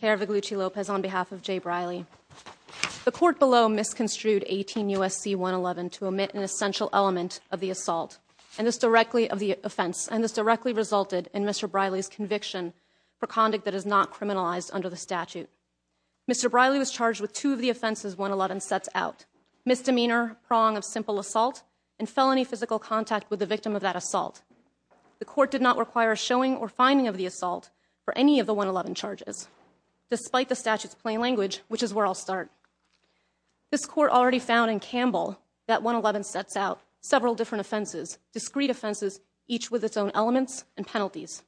care of the Gucci Lopez on behalf of Jay Briley. The court below misconstrued 18 U. S. C. 1 11 to omit an essential element of the assault and this directly of the offense. And this directly resulted in Mr Briley's conviction for conduct that is not criminalized under the statute. Mr Briley was charged with two of the offenses. 1 11 sets out misdemeanor prong of simple assault and felony physical contact with the victim of that assault. The court did not require showing or finding of the assault for despite the statute's plain language, which is where I'll start. This court already found in Campbell that 1 11 sets out several different offenses, discrete offenses, each with its own elements and penalties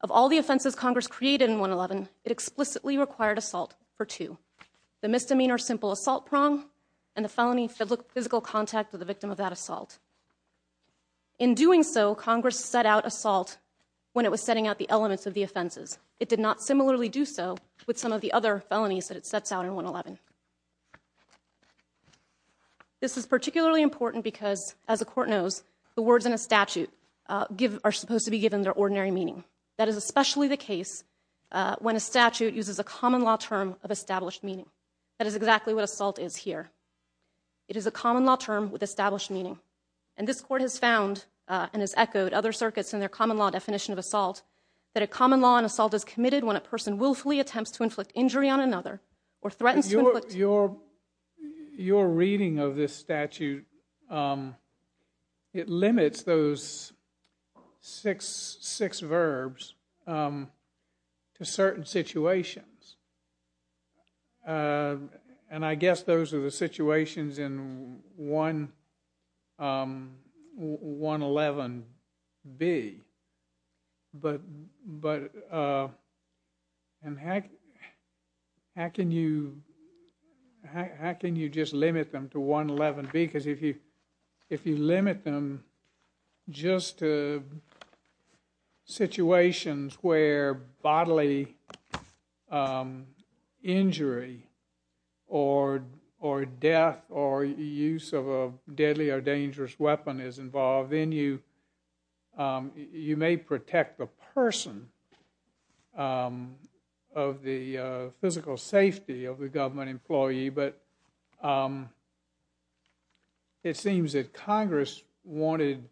of all the offenses Congress created in 1 11. It explicitly required assault for two. The misdemeanor, simple assault prong and the felony physical contact with the victim of that assault. In doing so, Congress set out assault when it was setting out the elements of the offenses. It did not similarly do so with some of the other felonies that it sets out in 1 11. This is particularly important because, as the court knows, the words in a statute are supposed to be given their ordinary meaning. That is especially the case when a statute uses a common law term of established meaning. That is exactly what assault is here. It is a common law term with established meaning. And this court has found and has echoed other circuits in their common law definition of assault that a common law and assault is committed when a person willfully attempts to inflict injury on another or threatens your your your reading of this statute. Um, it limits those 66 verbs, um, to certain situations. Uh, and I guess those are the situations in 111 B. But but, uh, and how? How can you? How can you just limit them to 1 11 B? Because if you if you limit them just to situations where bodily, um, injury or or death or use of a deadly or dangerous weapon is involved in you, um, you may protect the person, um, of the physical safety of the government employee. But, um, it seems that Congress wanted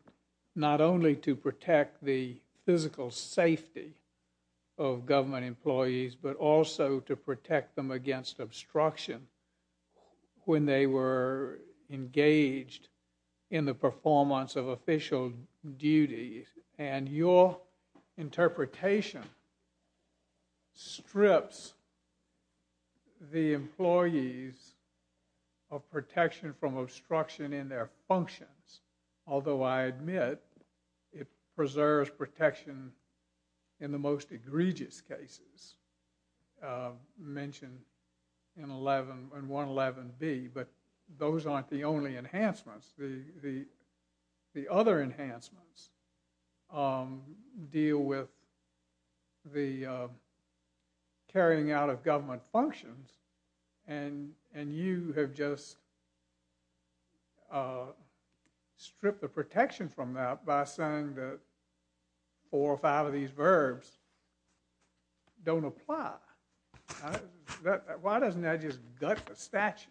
not only to protect the physical safety of government employees, but also to protect them against obstruction when they were engaged in the performance of official duties. And your interpretation strips the employees of protection from obstruction in their functions. Although I admit it preserves protection in the most egregious cases, uh, mentioned in 111 and 111 B. But those aren't the only enhancements. The other enhancements, um, deal with the carrying out of government functions. And and you have just, uh, strip the protection from that by saying that four or five of these verbs don't apply. Why doesn't that just gut the statute?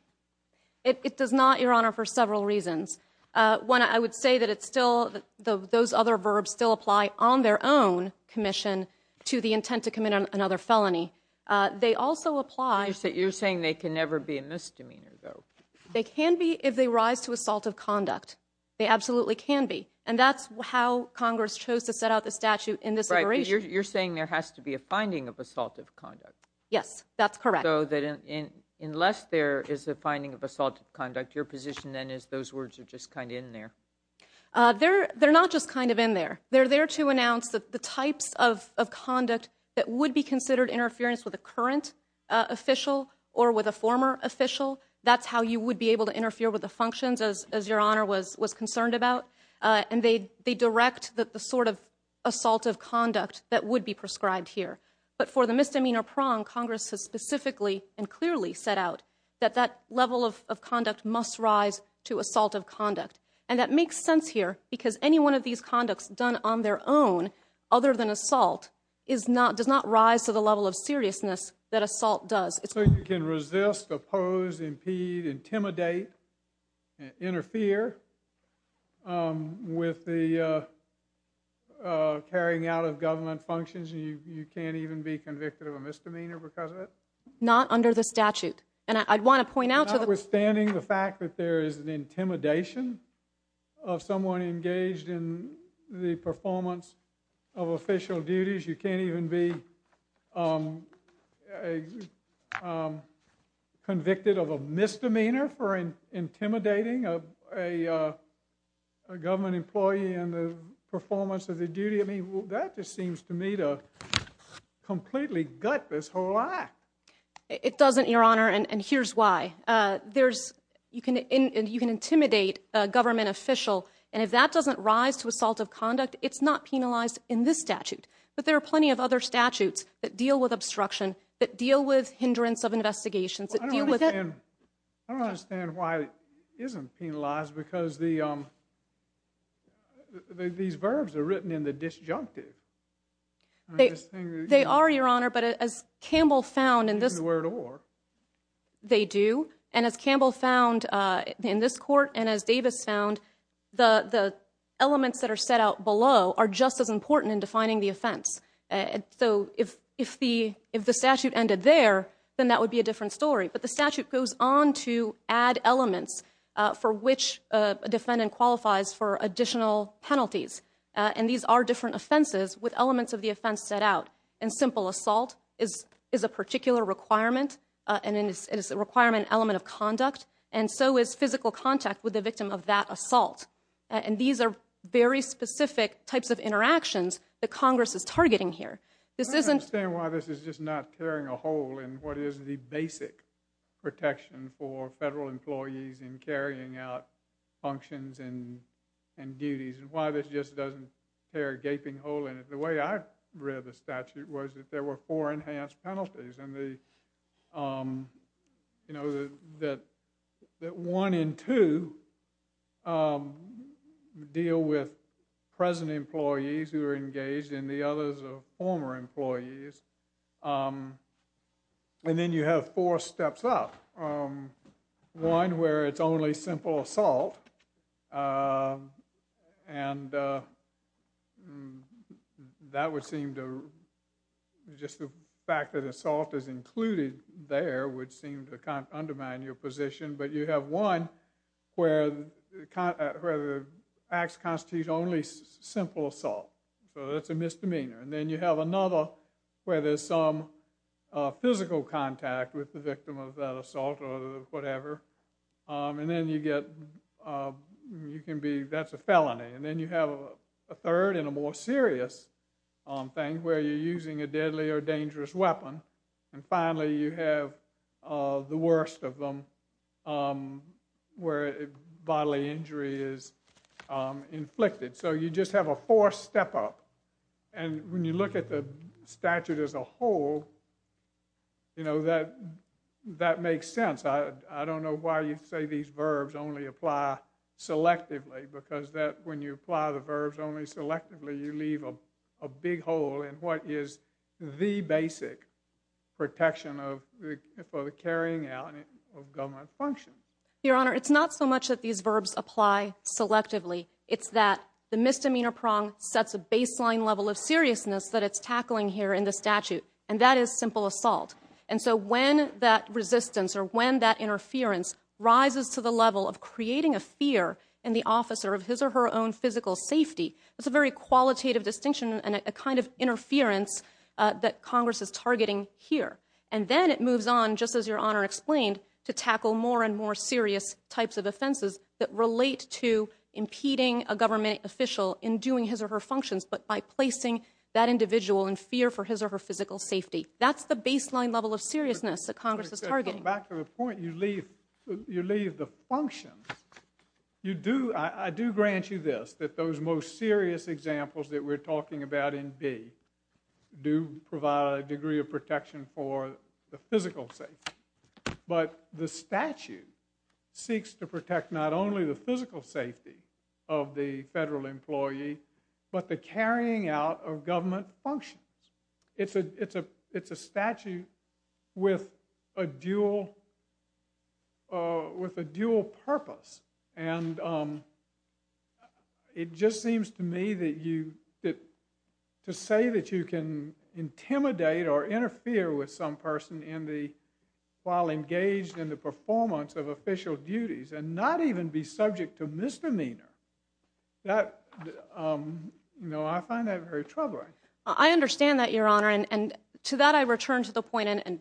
It does not, Your Honor, for several reasons. Uh, when I would say that it's still those other verbs still apply on their own commission to the intent to commit another felony. Uh, they also apply. You're saying they can never be a misdemeanor, though they can be if they rise to assault of conduct, they absolutely can be. And that's how Congress chose to set out the statute in this. You're saying there has to be a finding of assaultive conduct? Yes, that's correct. So that in unless there is a finding of assault conduct, your position then is those words are just kind of in there. Uh, they're they're not just kind of in there. They're there to announce that the types of conduct that would be considered interference with the current official or with a former official. That's how you would be able to interfere with the functions as your honor was was the sort of assault of conduct that would be prescribed here. But for the misdemeanor prong, Congress has specifically and clearly set out that that level of conduct must rise to assault of conduct. And that makes sense here because any one of these conducts done on their own other than assault is not does not rise to the level of seriousness that assault does. So you carrying out of government functions and you can't even be convicted of a misdemeanor because of it. Not under the statute. And I'd want to point out that we're standing the fact that there is an intimidation of someone engaged in the performance of official duties. You can't even be, um, um, convicted of misdemeanor for intimidating of a government employee in the performance of the duty. I mean, that just seems to me to completely gut this whole act. It doesn't, Your Honor. And here's why. Uh, there's you can and you can intimidate government official. And if that doesn't rise to assault of conduct, it's not penalized in this statute. But there are plenty of other statutes that deal with obstruction that deal with hindrance of investigations that deal with it. I don't understand why it isn't penalized because the, um, these verbs are written in the disjunctive. They are, Your Honor. But as Campbell found in this word or they do. And as Campbell found in this court and as Davis found the elements that are set out below are just as important in defining the offense. So if if the if that would be a different story. But the statute goes on to add elements for which defendant qualifies for additional penalties. And these are different offenses with elements of the offense set out and simple assault is is a particular requirement and it is a requirement element of conduct. And so is physical contact with the victim of that assault. And these are very specific types of interactions that Congress is targeting here. This isn't saying why this is just not carrying a hole in what is the basic protection for federal employees in carrying out functions and and duties and why this just doesn't tear a gaping hole in it. The way I read the statute was that there were four enhanced penalties and the, um, you know, that that one in two deal with present employees who are engaged in the others of former employees. And then you have four steps up. One where it's only simple assault and that would seem to just the fact that assault is included there would seem to undermine your position. But you have one where the acts constitute only simple assault. So that's a misdemeanor. And then you have another where there's some physical contact with the victim of that assault or whatever. And then you get you can be that's a felony. And then you have a third and a more serious thing where you're using a deadly or dangerous weapon. And finally you have the worst of them where bodily injury is inflicted. So you just have a fourth step up. And when you look at the statute as a whole, you know, that that makes sense. I don't know why you say these verbs only apply selectively because that when you apply the verbs only selectively you leave a big hole in what is the basic protection of the carrying out of government function. Your Honor, it's not so much that these verbs apply selectively. It's that the misdemeanor prong sets a baseline level of seriousness that it's tackling here in the statute. And that is simple assault. And so when that resistance or when that interference rises to the level of creating a fear in the officer of his or her own physical safety, it's a very qualitative distinction and a kind of interference that Congress is targeting here. And then it moves on, just as Your Honor explained, to tackle more and more serious types of offenses that relate to impeding a government official in doing his or her functions but by placing that individual in fear for his or her physical safety. That's the baseline level of seriousness that Congress is targeting. Back to the point, you leave the functions. You do, I do grant you this, that those most serious examples that we're talking about in B do provide a degree of protection for the physical safety. But the statute seeks to protect not only the physical safety of the federal employee but the carrying out of government functions. It's a statute with a dual purpose. And it just seems to me that to say that you can intimidate or interfere with some person while engaged in the performance of official duties and not even be subject to misdemeanor, I find that very troubling. I understand that, Your Honor. And to that I return to the point, and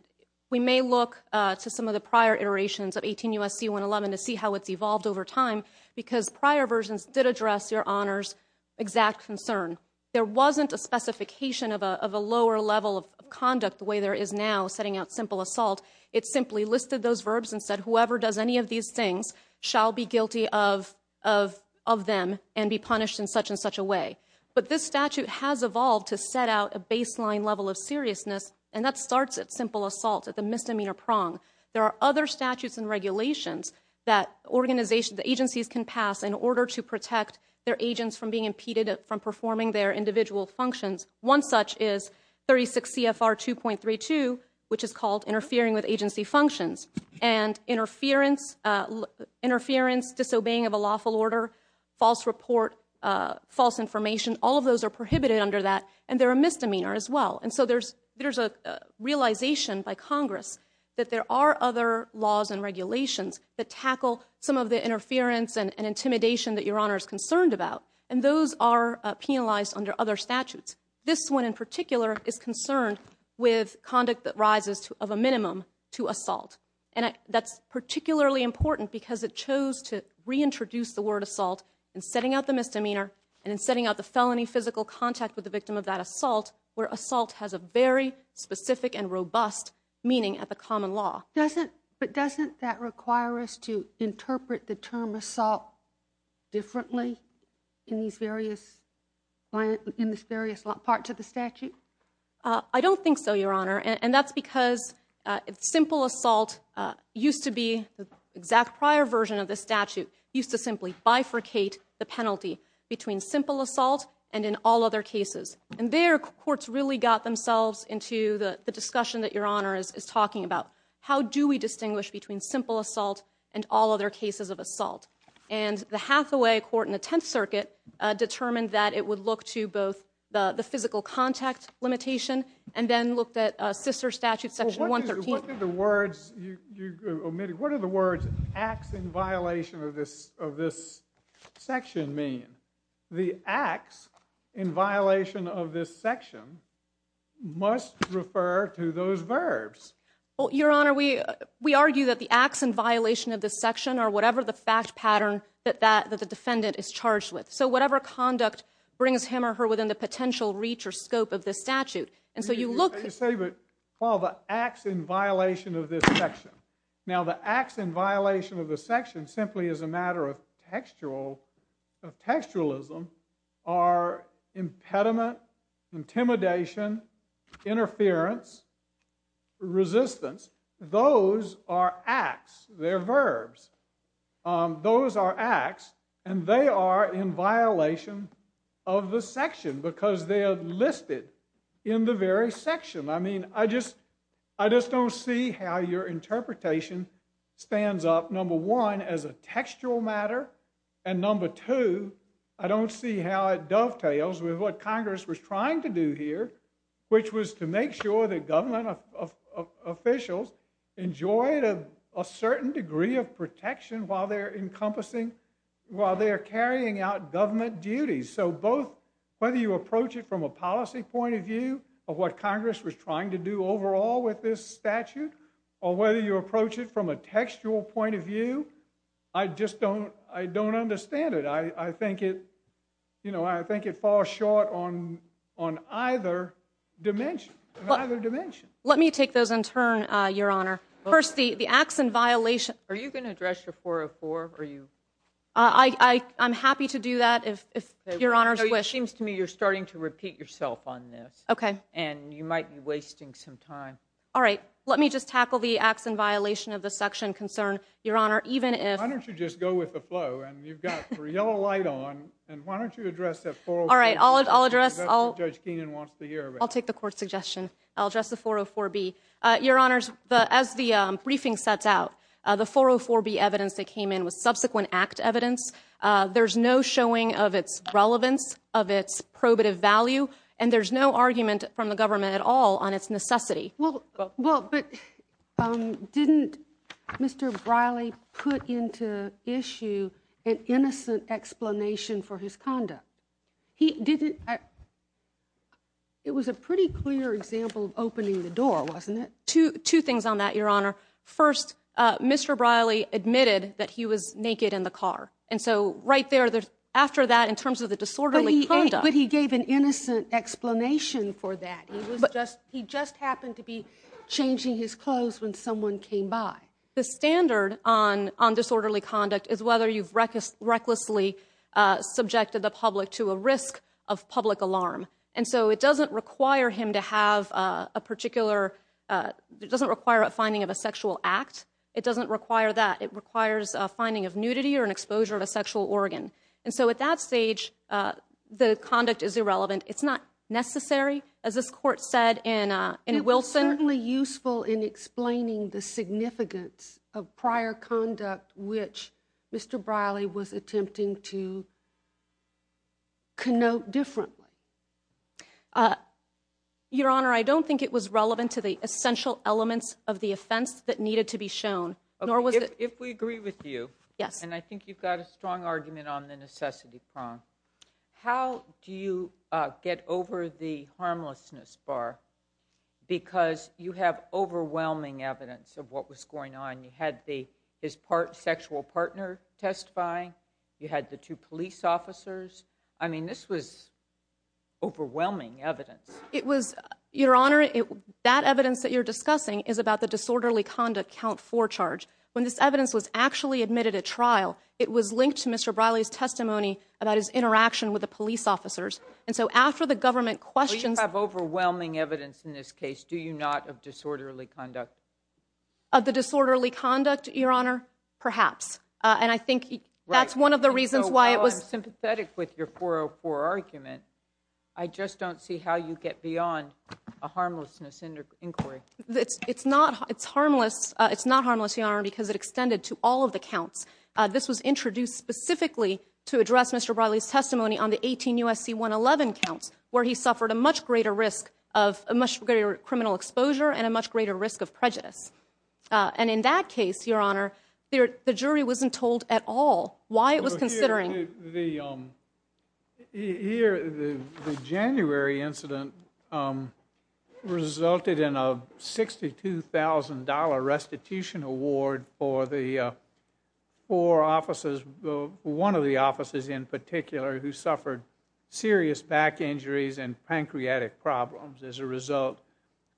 we may look to some of the prior iterations of 18 U.S.C. 111 to see how it's evolved over time, because prior versions did address, Your Honors, exact concern. There wasn't a specification of a lower level of conduct the way there is now setting out simple assault. It simply listed those verbs and said whoever does any of these things shall be guilty of them and be punished in such and such a way. But this statute has evolved to set out a baseline level of seriousness and that starts at simple assault, at the misdemeanor prong. There are other statutes and regulations that agencies can pass in order to protect their agents from being impeded from performing their individual functions. One such is 36 CFR 2.32, which is called interfering with agency functions. And interference, disobeying of a lawful order, false report, false information, all of those are prohibited under that and they're a misdemeanor as well. And so there's a realization by Congress that there are other laws and regulations that tackle some of the interference and intimidation that Your Honor is concerned about and those are penalized under other statutes. This one in particular is concerned with conduct that rises to of a minimum to assault. And that's particularly important because it chose to reintroduce the word assault in setting out the misdemeanor and in setting out the felony physical contact with the victim of that assault, where assault has a very specific and robust meaning at the common law. But doesn't that require us to interpret the term assault differently in these various parts of the statute? I don't think so, Your Honor, and that's because simple assault used to be, the exact prior version of the statute, used to simply bifurcate the penalty between simple assault and in all other cases. And there courts really got themselves into the discussion that Your Honor is talking about. How do we distinguish between simple assault and all other cases of assault? And the Hathaway Court in the Tenth Circuit determined that it would look to both the physical contact limitation and then looked at a sister statute, Section 113. What did the words, you omitted, what are the words acts in violation of this of this section mean? The acts in violation of this section must refer to those verbs. Well, Your Honor, we we argue that the acts in violation of this section or whatever the fact pattern that that that the defendant is charged with. So whatever conduct brings him or her within the potential reach or scope of this statute. And so you look to say but call the acts in violation of this section. Now the acts in violation of the section simply is a matter of textual textualism are impediment, intimidation, interference, resistance. Those are acts. They're verbs. Those are acts and they are in violation of the section because they are listed in the very section. I mean I just I just don't see how your number two I don't see how it dovetails with what Congress was trying to do here which was to make sure that government officials enjoyed a certain degree of protection while they're encompassing while they are carrying out government duties. So both whether you approach it from a policy point of view of what Congress was trying to do overall with this statute or whether you I think it you know I think it falls short on on either dimension. Let me take those in turn your honor. First the the acts in violation. Are you going to address your 404? I I'm happy to do that if your honors wish. It seems to me you're starting to repeat yourself on this. Okay. And you might be wasting some time. All right let me just tackle the acts in violation of the section concern your honor even if I don't you just go with the flow and you've got a yellow light on and why don't you address that for all right I'll address I'll take the court suggestion I'll address the 404 B your honors but as the briefing sets out the 404 B evidence that came in with subsequent act evidence there's no showing of its relevance of its probative value and there's no argument from the government at all on its necessity. Well well but didn't Mr. Briley put into issue an innocent explanation for his conduct? He didn't it was a pretty clear example of opening the door wasn't it? Two two things on that your honor. First Mr. Briley admitted that he was naked in the car and so right there there's after that in terms of the disorderly conduct. But he gave an innocent explanation for that but he just happened to be changing his clothes when someone came by. The standard on on disorderly conduct is whether you've reckless recklessly subjected the public to a risk of public alarm and so it doesn't require him to have a particular it doesn't require a finding of a sexual act it doesn't require that it requires a finding of is irrelevant it's not necessary as this court said in Wilson. It was certainly useful in explaining the significance of prior conduct which Mr. Briley was attempting to connote differently. Your honor I don't think it was relevant to the essential elements of the offense that needed to be shown. If we agree with you yes and I think you've got a strong argument on the necessity prong how do you get over the harmlessness bar because you have overwhelming evidence of what was going on you had the his part sexual partner testifying you had the two police officers I mean this was overwhelming evidence. It was your honor it that evidence that you're discussing is about the disorderly conduct count for charge when this evidence was actually admitted at trial it was linked to Mr. Briley's testimony about his interaction with the police officers and so after the government questions have overwhelming evidence in this case do you not of disorderly conduct of the disorderly conduct your honor perhaps and I think that's one of the reasons why it was sympathetic with your 404 argument I just don't see how you get beyond a harmlessness in their inquiry it's it's not it's harmless it's not harmless your honor because it was introduced specifically to address Mr. Riley's testimony on the 18 USC 111 counts where he suffered a much greater risk of a much greater criminal exposure and a much greater risk of prejudice and in that case your honor there the jury wasn't told at all why it was considering the January incident resulted in a $62,000 restitution award for the four officers one of the officers in particular who suffered serious back injuries and pancreatic problems as a result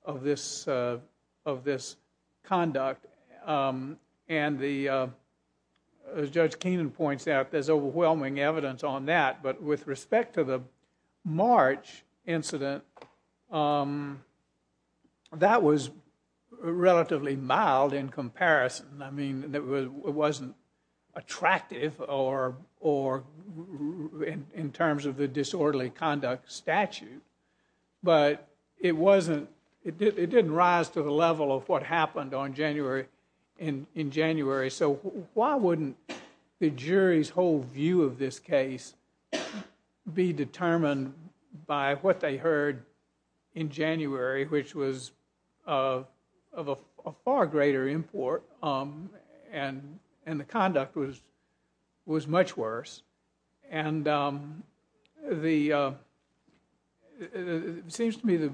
of this of this conduct and the judge Keenan points out there's March incident that was relatively mild in comparison I mean it wasn't attractive or or in terms of the disorderly conduct statute but it wasn't it didn't rise to the level of what happened on January in in January so why wouldn't the jury's whole view of this case be determined by what they heard in January which was of a far greater import and and the conduct was was much worse and the seems to me the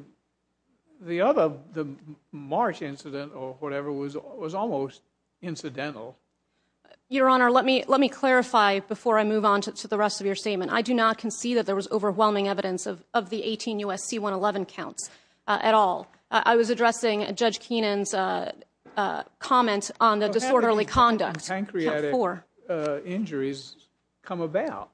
the other the March incident or whatever was was incidental your honor let me let me clarify before I move on to the rest of your statement I do not concede that there was overwhelming evidence of the 18 USC 111 counts at all I was addressing a judge Keenan's comment on the disorderly conduct for injuries come about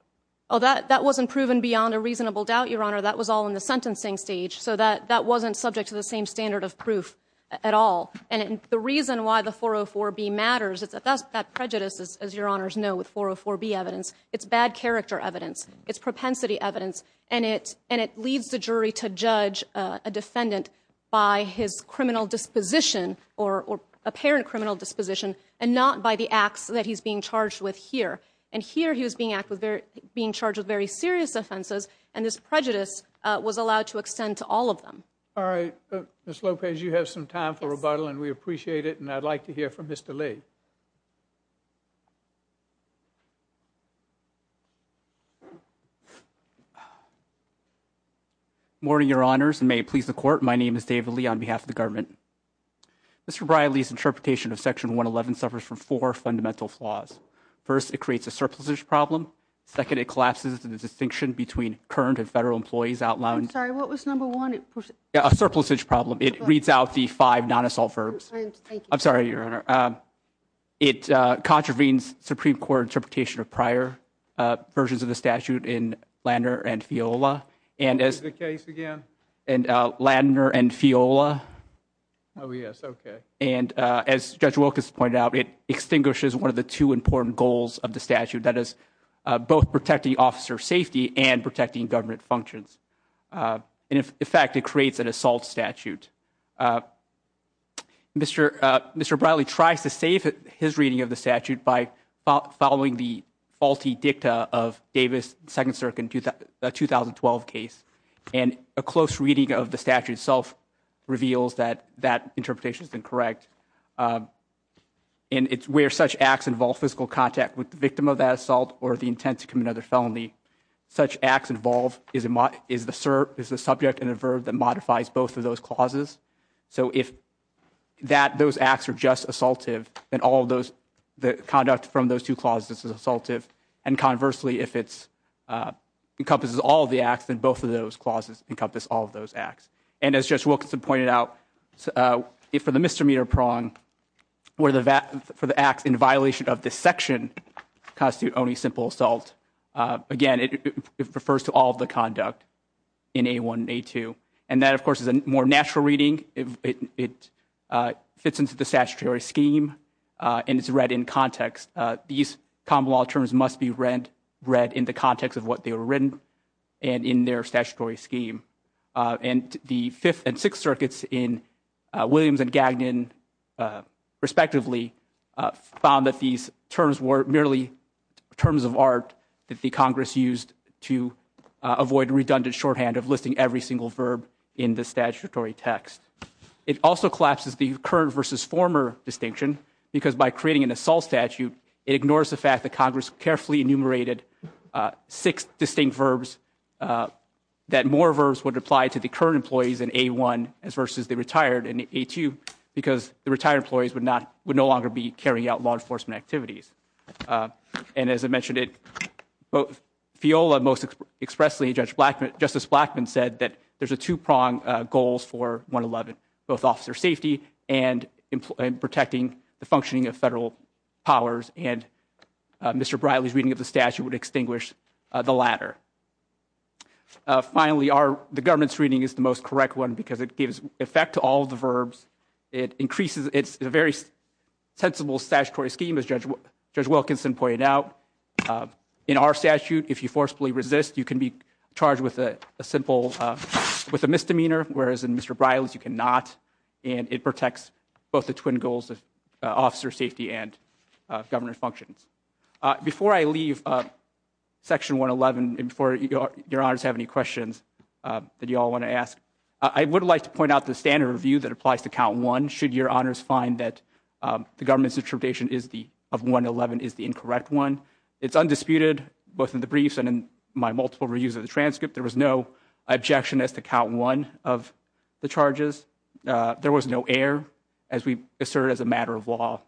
oh that that wasn't proven beyond a reasonable doubt your honor that was all in the sentencing stage so that that wasn't subject to the same standard of proof at all and the reason why the 404 B matters it's a that's that prejudices as your honors know with 404 B evidence it's bad character evidence it's propensity evidence and it and it leads the jury to judge a defendant by his criminal disposition or apparent criminal disposition and not by the acts that he's being charged with here and here he was being active there being charged with very serious offenses and this prejudice was allowed to extend to all of them all right miss Lopez you have some time for rebuttal and we appreciate it and I'd like to hear from mr. Lee morning your honors and may it please the court my name is David Lee on behalf of the government mr. Riley's interpretation of section 111 suffers from four fundamental flaws first it creates a surplus ish problem second it collapses to the distinction between current and federal employees outlawing a surplus ish problem it reads out the five non-assault verbs I'm sorry your honor it contravenes Supreme Court interpretation of prior versions of the statute in lander and fiola and as the case again and lander and fiola oh yes okay and as judge Wilkins pointed out it extinguishes one of the two important goals of the statute that is both protecting officer safety and protecting government functions and if in fact it creates an assault statute mr. mr. Bradley tries to save it his reading of the statute by following the faulty dicta of Davis second circuit do that 2012 case and a close reading of the statute itself reveals that that interpretations incorrect and it's where such acts involve physical contact with the victim of that assault or the intent to commit another felony such acts involve is it my is the sir is the subject and a verb that modifies both of those clauses so if that those acts are just assaultive and all those the conduct from those two clauses is assaultive and conversely if it's encompasses all the acts and both of those clauses encompass all of those acts and as just Wilkinson pointed out so if for the mr. meter prong where the VAT for the acts in violation of this action constitute only simple assault again it refers to all the conduct in a one day two and that of course is a more natural reading if it fits into the statutory scheme and it's read in context these common law terms must be read read in the context of what they were written and in their statutory scheme and the fifth and sixth circuits in Williams and Gagnon respectively found that these terms were merely terms of art that the Congress used to avoid redundant shorthand of listing every single verb in the statutory text it also collapses the current versus former distinction because by creating an assault statute it ignores the fact that Congress carefully enumerated six distinct verbs that more verbs would apply to the current employees in a1 as versus the retired and a2 because the retired employees would not would no longer be carrying out law enforcement activities and as I mentioned it both Fiola most expressly Judge Blackman Justice Blackman said that there's a two-prong goals for 111 both officer safety and in protecting the functioning of federal powers and mr. Briley's reading of the statute would extinguish the latter finally are the government's reading is the most correct one because it gives effect to all the verbs it increases it's a very sensible statutory scheme as judge judge Wilkinson pointed out in our statute if you forcibly resist you can be charged with a simple with a misdemeanor whereas in mr. Briley's you cannot and it protects both the twin goals of officer safety and governor functions before I leave a section 111 before your honors have any questions that you all want to ask I would like to point out the standard review that applies to count one should your honors find that the government's interpretation is the of 111 is the incorrect one it's undisputed both in the briefs and in my multiple reviews of the transcript there was no objection as to count one of the charges there was no air as we assert as a matter of law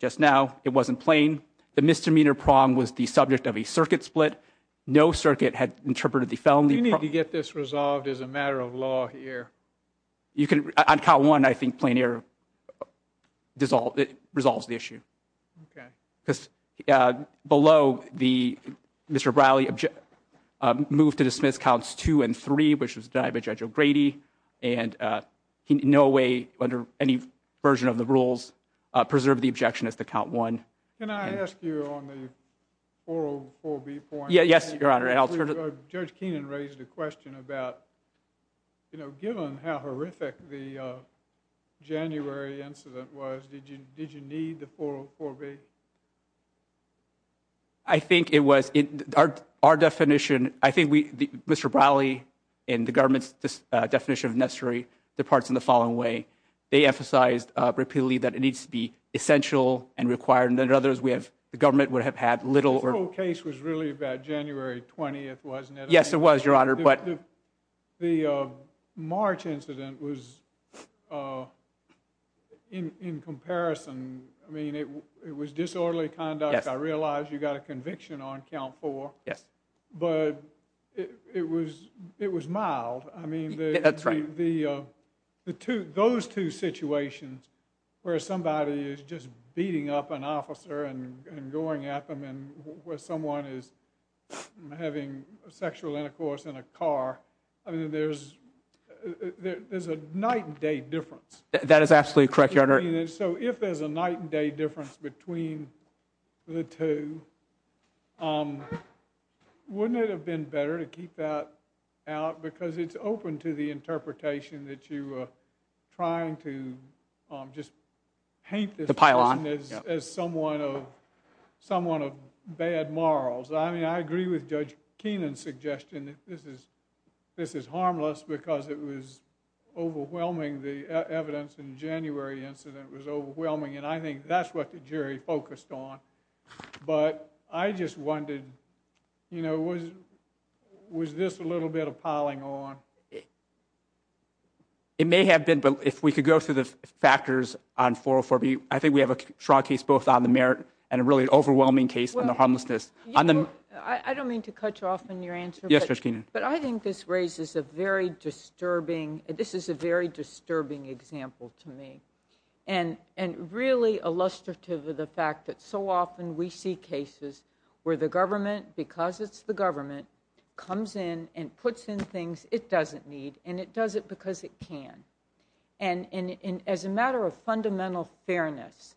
just now it wasn't plain the misdemeanor prong was the subject of a circuit split no circuit had interpreted the felony you need to get this resolved as a matter of law here you can count one I think plain air dissolve it resolves the issue because below the mr. Briley object moved to dismiss counts two and three which was died by judge O'Grady and he no way under any version of the yes your honor and I'll turn to judge Keenan raised a question about you know given how horrific the January incident was did you did you need the 404 B I think it was in our definition I think we mr. Briley in the government's definition of necessary the parts in the following way they emphasized repeatedly that it needs to be essential and required and then others we have the wasn't it yes it was your honor but the March incident was in comparison I mean it was disorderly conduct I realized you got a conviction on count for yes but it was it was mild I mean that's right the the two those two situations where somebody is just beating up an officer and going at them and where someone is having sexual intercourse in a car I mean there's there's a night and day difference that is absolutely correct your honor so if there's a night and day difference between the two wouldn't it have been better to keep that out because it's open to the interpretation that you were trying to just paint the pile on as someone of someone of bad morals I mean I agree with judge Keenan suggestion that this is this is harmless because it was overwhelming the evidence in January incident was overwhelming and I think that's what the jury focused on but I just wondered you know was was this a little bit of piling on it it may have been but if we could go through the factors on 404 B I think we have a strong case both on the merit and a really overwhelming case on the homelessness on them I don't mean to cut you off in your answer yesterday but I think this raises a very disturbing this is a very disturbing example to me and and really illustrative of the fact that so often we see cases where the government because it's the government comes in and puts in things it doesn't need and it does it because it can and as a matter of fundamental fairness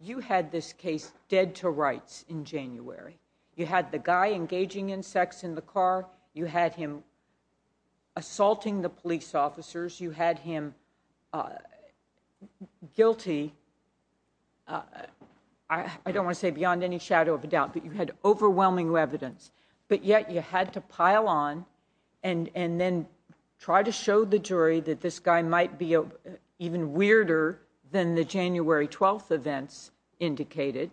you had this case dead to rights in January you had the guy engaging in sex in the car you had him assaulting the police officers you had him guilty I don't want to say beyond any shadow of a doubt but you had overwhelming evidence but yet you had to pile on and and then try to show the jury that this guy might be a even weirder than the January 12th events indicated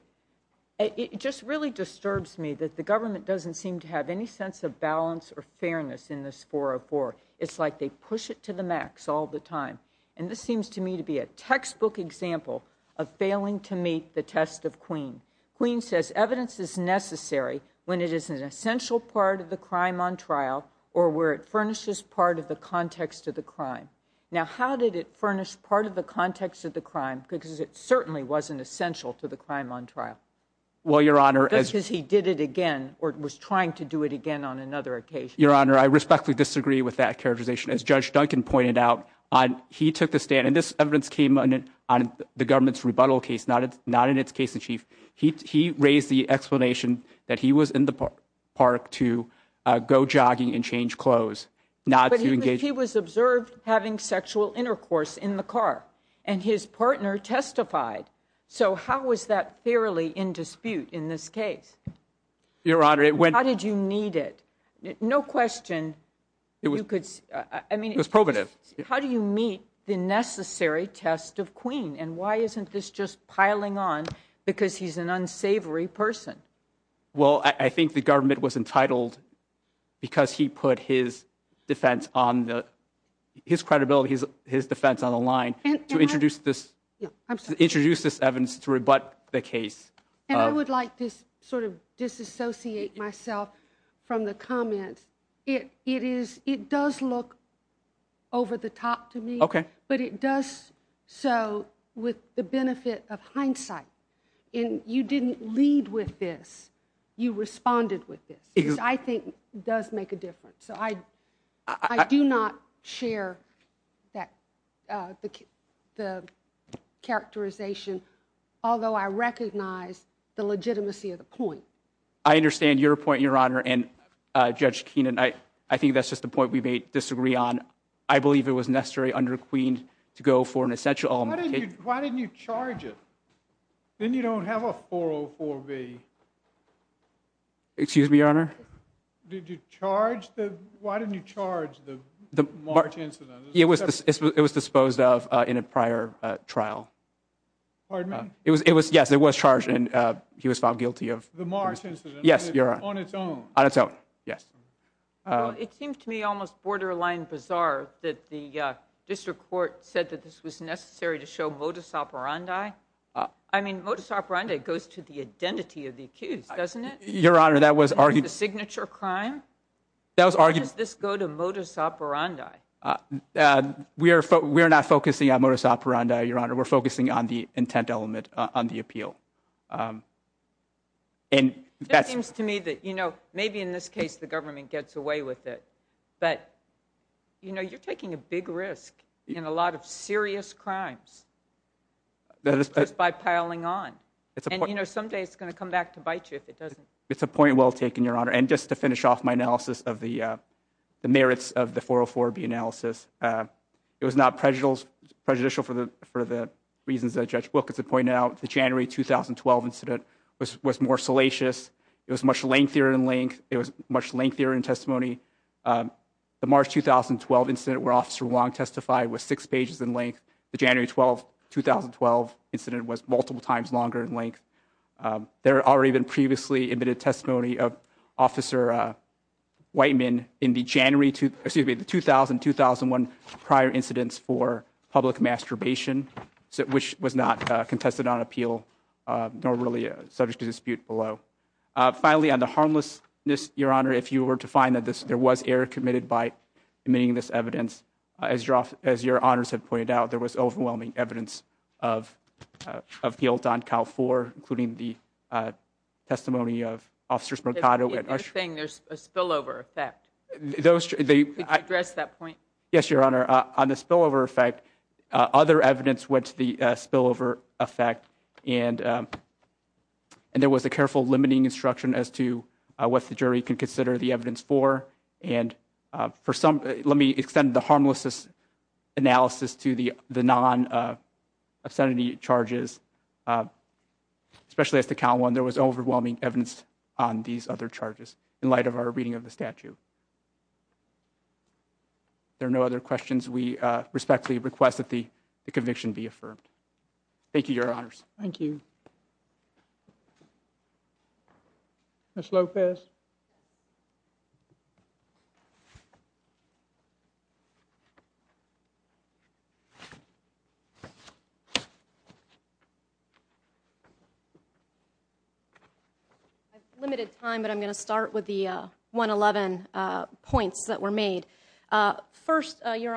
it just really disturbs me that the government doesn't seem to have any sense of balance or fairness in this 404 it's like they push it to the max all the time and this seems to me to be a textbook example of failing to meet the test of Queen Queen says evidence is essential part of the crime on trial or where it furnishes part of the context of the crime now how did it furnish part of the context of the crime because it certainly wasn't essential to the crime on trial well your honor as he did it again or it was trying to do it again on another occasion your honor I respectfully disagree with that characterization as judge Duncan pointed out on he took the stand and this evidence came on it on the government's rebuttal case not it's case-in-chief he raised the explanation that he was in the park to go jogging and change clothes not to engage he was observed having sexual intercourse in the car and his partner testified so how was that fairly in dispute in this case your honor it went how did you need it no question it was good I mean it was probative how do you meet the necessary test of Queen and why isn't this just piling on because he's an unsavory person well I think the government was entitled because he put his defense on the his credibility is his defense on the line and to introduce this introduce this evidence to rebut the case and I would like this sort of disassociate myself from the comments it it is it the top to me okay but it does so with the benefit of hindsight in you didn't lead with this you responded with this I think does make a difference so I I do not share that the characterization although I recognize the legitimacy of the point I understand your point your honor and judge Keenan I I think that's the point we may disagree on I believe it was necessary under Queen to go for an essential why didn't you charge it then you don't have a 404 B excuse me your honor did you charge the why didn't you charge the the March incident it was this it was disposed of in a prior trial pardon it was it was yes it was charged and he was found guilty of the March incident yes you're on its own on its yes it seems to me almost borderline bizarre that the district court said that this was necessary to show modus operandi I mean modus operandi goes to the identity of the accused doesn't it your honor that was argued signature crime that was argued this go to modus operandi we are but we're not focusing on modus operandi your honor we're focusing on the intent element on the case the government gets away with it but you know you're taking a big risk in a lot of serious crimes that is just by piling on it's a point you know someday it's going to come back to bite you if it doesn't it's a point well taken your honor and just to finish off my analysis of the merits of the 404 B analysis it was not prejudicial prejudicial for the for the reasons that judge Wilkins had pointed out the January 2012 incident was was more salacious it was much lengthier in length it was much lengthier in testimony the March 2012 incident where officer long testified was six pages in length the January 12 2012 incident was multiple times longer in length there are even previously admitted testimony of officer Whiteman in the January to the 2000 2001 prior incidents for public masturbation so which was not contested on appeal nor subject to dispute below finally on the harmlessness your honor if you were to find that this there was error committed by meaning this evidence as your office as your honors have pointed out there was overwhelming evidence of of guilt on Cal four including the testimony of officers Mercado with a spillover effect those they address that point yes your honor on the spillover effect other and there was a careful limiting instruction as to what the jury can consider the evidence for and for some let me extend the harmlessness analysis to the the non obscenity charges especially as to count one there was overwhelming evidence on these other charges in light of our reading of the statute there are no other questions we respectfully request that the conviction be affirmed thank you your honors thank you miss Lopez limited time but I'm gonna start with the 111 points that were made first your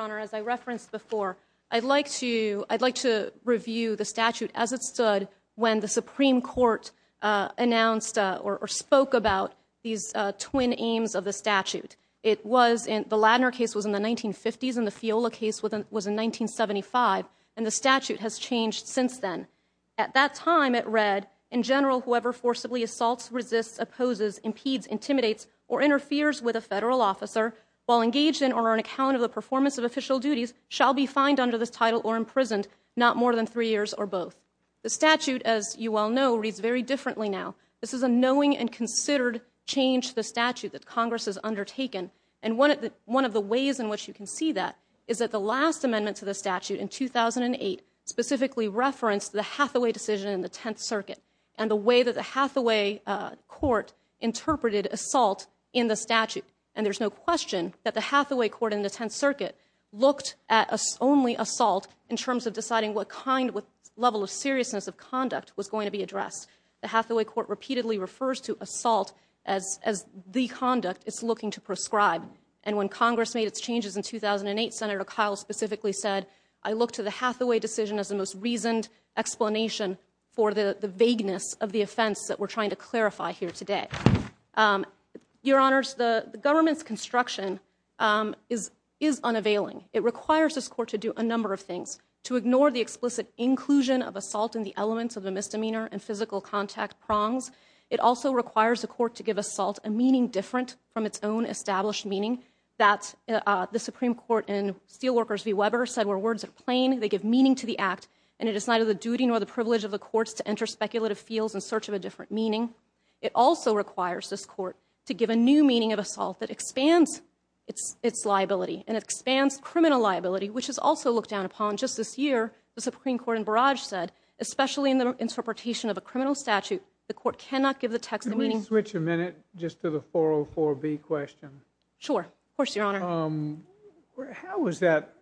review the statute as it stood when the Supreme Court announced or spoke about these twin aims of the statute it was in the Ladner case was in the 1950s in the Fiola case with him was in 1975 and the statute has changed since then at that time it read in general whoever forcibly assaults resists opposes impedes intimidates or interferes with a federal officer while engaged in or an account of the performance of official duties shall be fined under this title or imprisoned not more than three years or both the statute as you well know reads very differently now this is a knowing and considered change the statute that Congress has undertaken and one of the one of the ways in which you can see that is that the last amendment to the statute in 2008 specifically referenced the Hathaway decision in the Tenth Circuit and the way that the Hathaway court interpreted assault in the statute and there's no question that the Hathaway assault in terms of deciding what kind with level of seriousness of conduct was going to be addressed the Hathaway court repeatedly refers to assault as as the conduct it's looking to prescribe and when Congress made its changes in 2008 senator Kyle specifically said I look to the Hathaway decision as the most reasoned explanation for the vagueness of the offense that we're trying to clarify here today your honors the government's construction is is it requires this court to do a number of things to ignore the explicit inclusion of assault in the elements of a misdemeanor and physical contact prongs it also requires the court to give assault a meaning different from its own established meaning that the Supreme Court in Steelworkers v. Weber said where words are plain they give meaning to the act and it is neither the duty nor the privilege of the courts to enter speculative fields in search of a different meaning it also requires this court to give a new meaning of assault that expands its its liability and expands criminal liability which has also looked down upon just this year the Supreme Court in Barrage said especially in the interpretation of a criminal statute the court cannot give the text of meetings which a minute just to the 404 B question sure of course your honor um how was that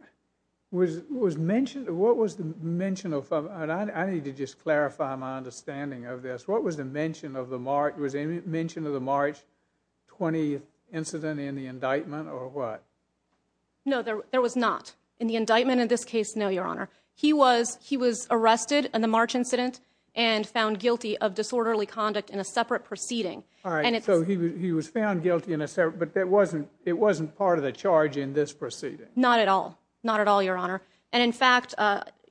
was was mentioned what was the mention of and I need to just clarify my understanding of this what was the mention of the mark was any mention of the March 20th incident in the indictment or what no there was not in the indictment in this case no your honor he was he was arrested and the March incident and found guilty of disorderly conduct in a separate proceeding all right so he was found guilty in a separate but that wasn't it wasn't part of the charge in this proceeding not at all not at all your honor and in fact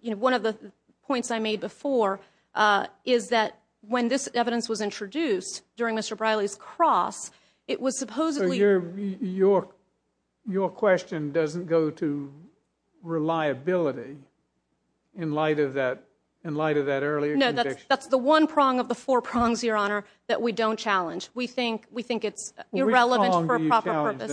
you know one of the points I made before is that when this evidence was introduced during mr. Briley's cross it was supposedly your your question doesn't go to reliability in light of that in light of that earlier no that's that's the one prong of the four prongs your honor that we don't challenge we think we think it's irrelevant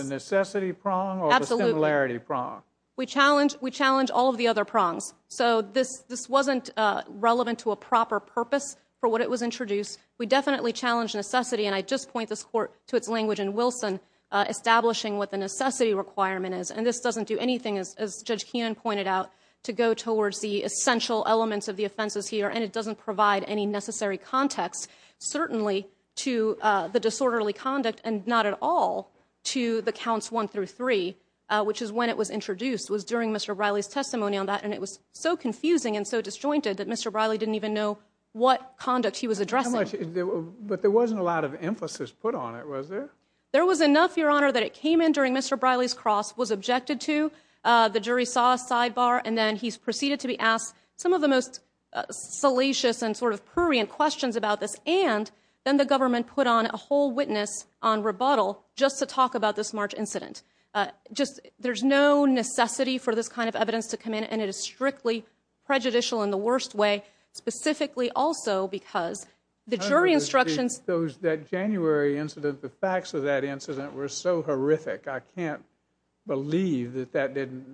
necessity prong or the similarity prong we challenge we challenge all of the other prongs so this this wasn't relevant to a proper purpose for what it was introduced we definitely challenge necessity and I just point this court to its language in Wilson establishing what the necessity requirement is and this doesn't do anything as judge Keenan pointed out to go towards the essential elements of the offenses here and it doesn't provide any necessary context certainly to the disorderly conduct and not at all to the counts one through three which is when it was introduced was during mr. Riley's testimony on that and it was so confusing and so disjointed that mr. Riley didn't even know what conduct he was addressing but there wasn't a lot of emphasis put on it was there there was enough your honor that it came in during mr. Riley's cross was objected to the jury saw a sidebar and then he's proceeded to be asked some of the most salacious and sort of prurient questions about this and then the government put on a whole witness on rebuttal just to talk about this March incident just there's no necessity for this kind of evidence to come in and it is strictly prejudicial in the worst way specifically also because the jury instructions those that January incident the facts of that incident were so horrific I can't believe that that didn't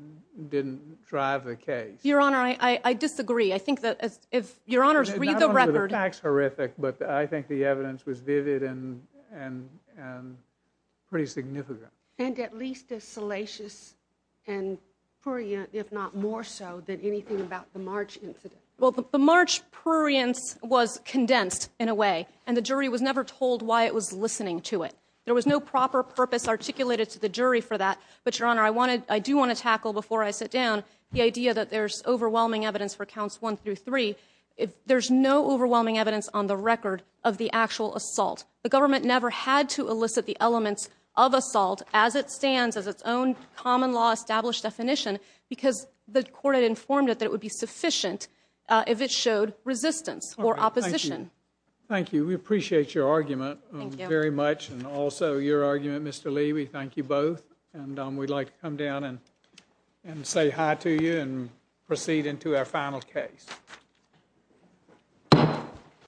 didn't drive the case your honor I I disagree I think that as if your honors read the record acts horrific but I think the evidence was vivid and and and pretty significant and at least as more so than anything about the March incident well the March prurience was condensed in a way and the jury was never told why it was listening to it there was no proper purpose articulated to the jury for that but your honor I wanted I do want to tackle before I sit down the idea that there's overwhelming evidence for counts one through three if there's no overwhelming evidence on the record of the actual assault the government never had to elicit the elements of assault as it stands as its own common law established definition because the court had informed it that it would be sufficient if it showed resistance or opposition thank you we appreciate your argument very much and also your argument mr. Lee we thank you both and we'd like to come down and and say hi to you and proceed into our final case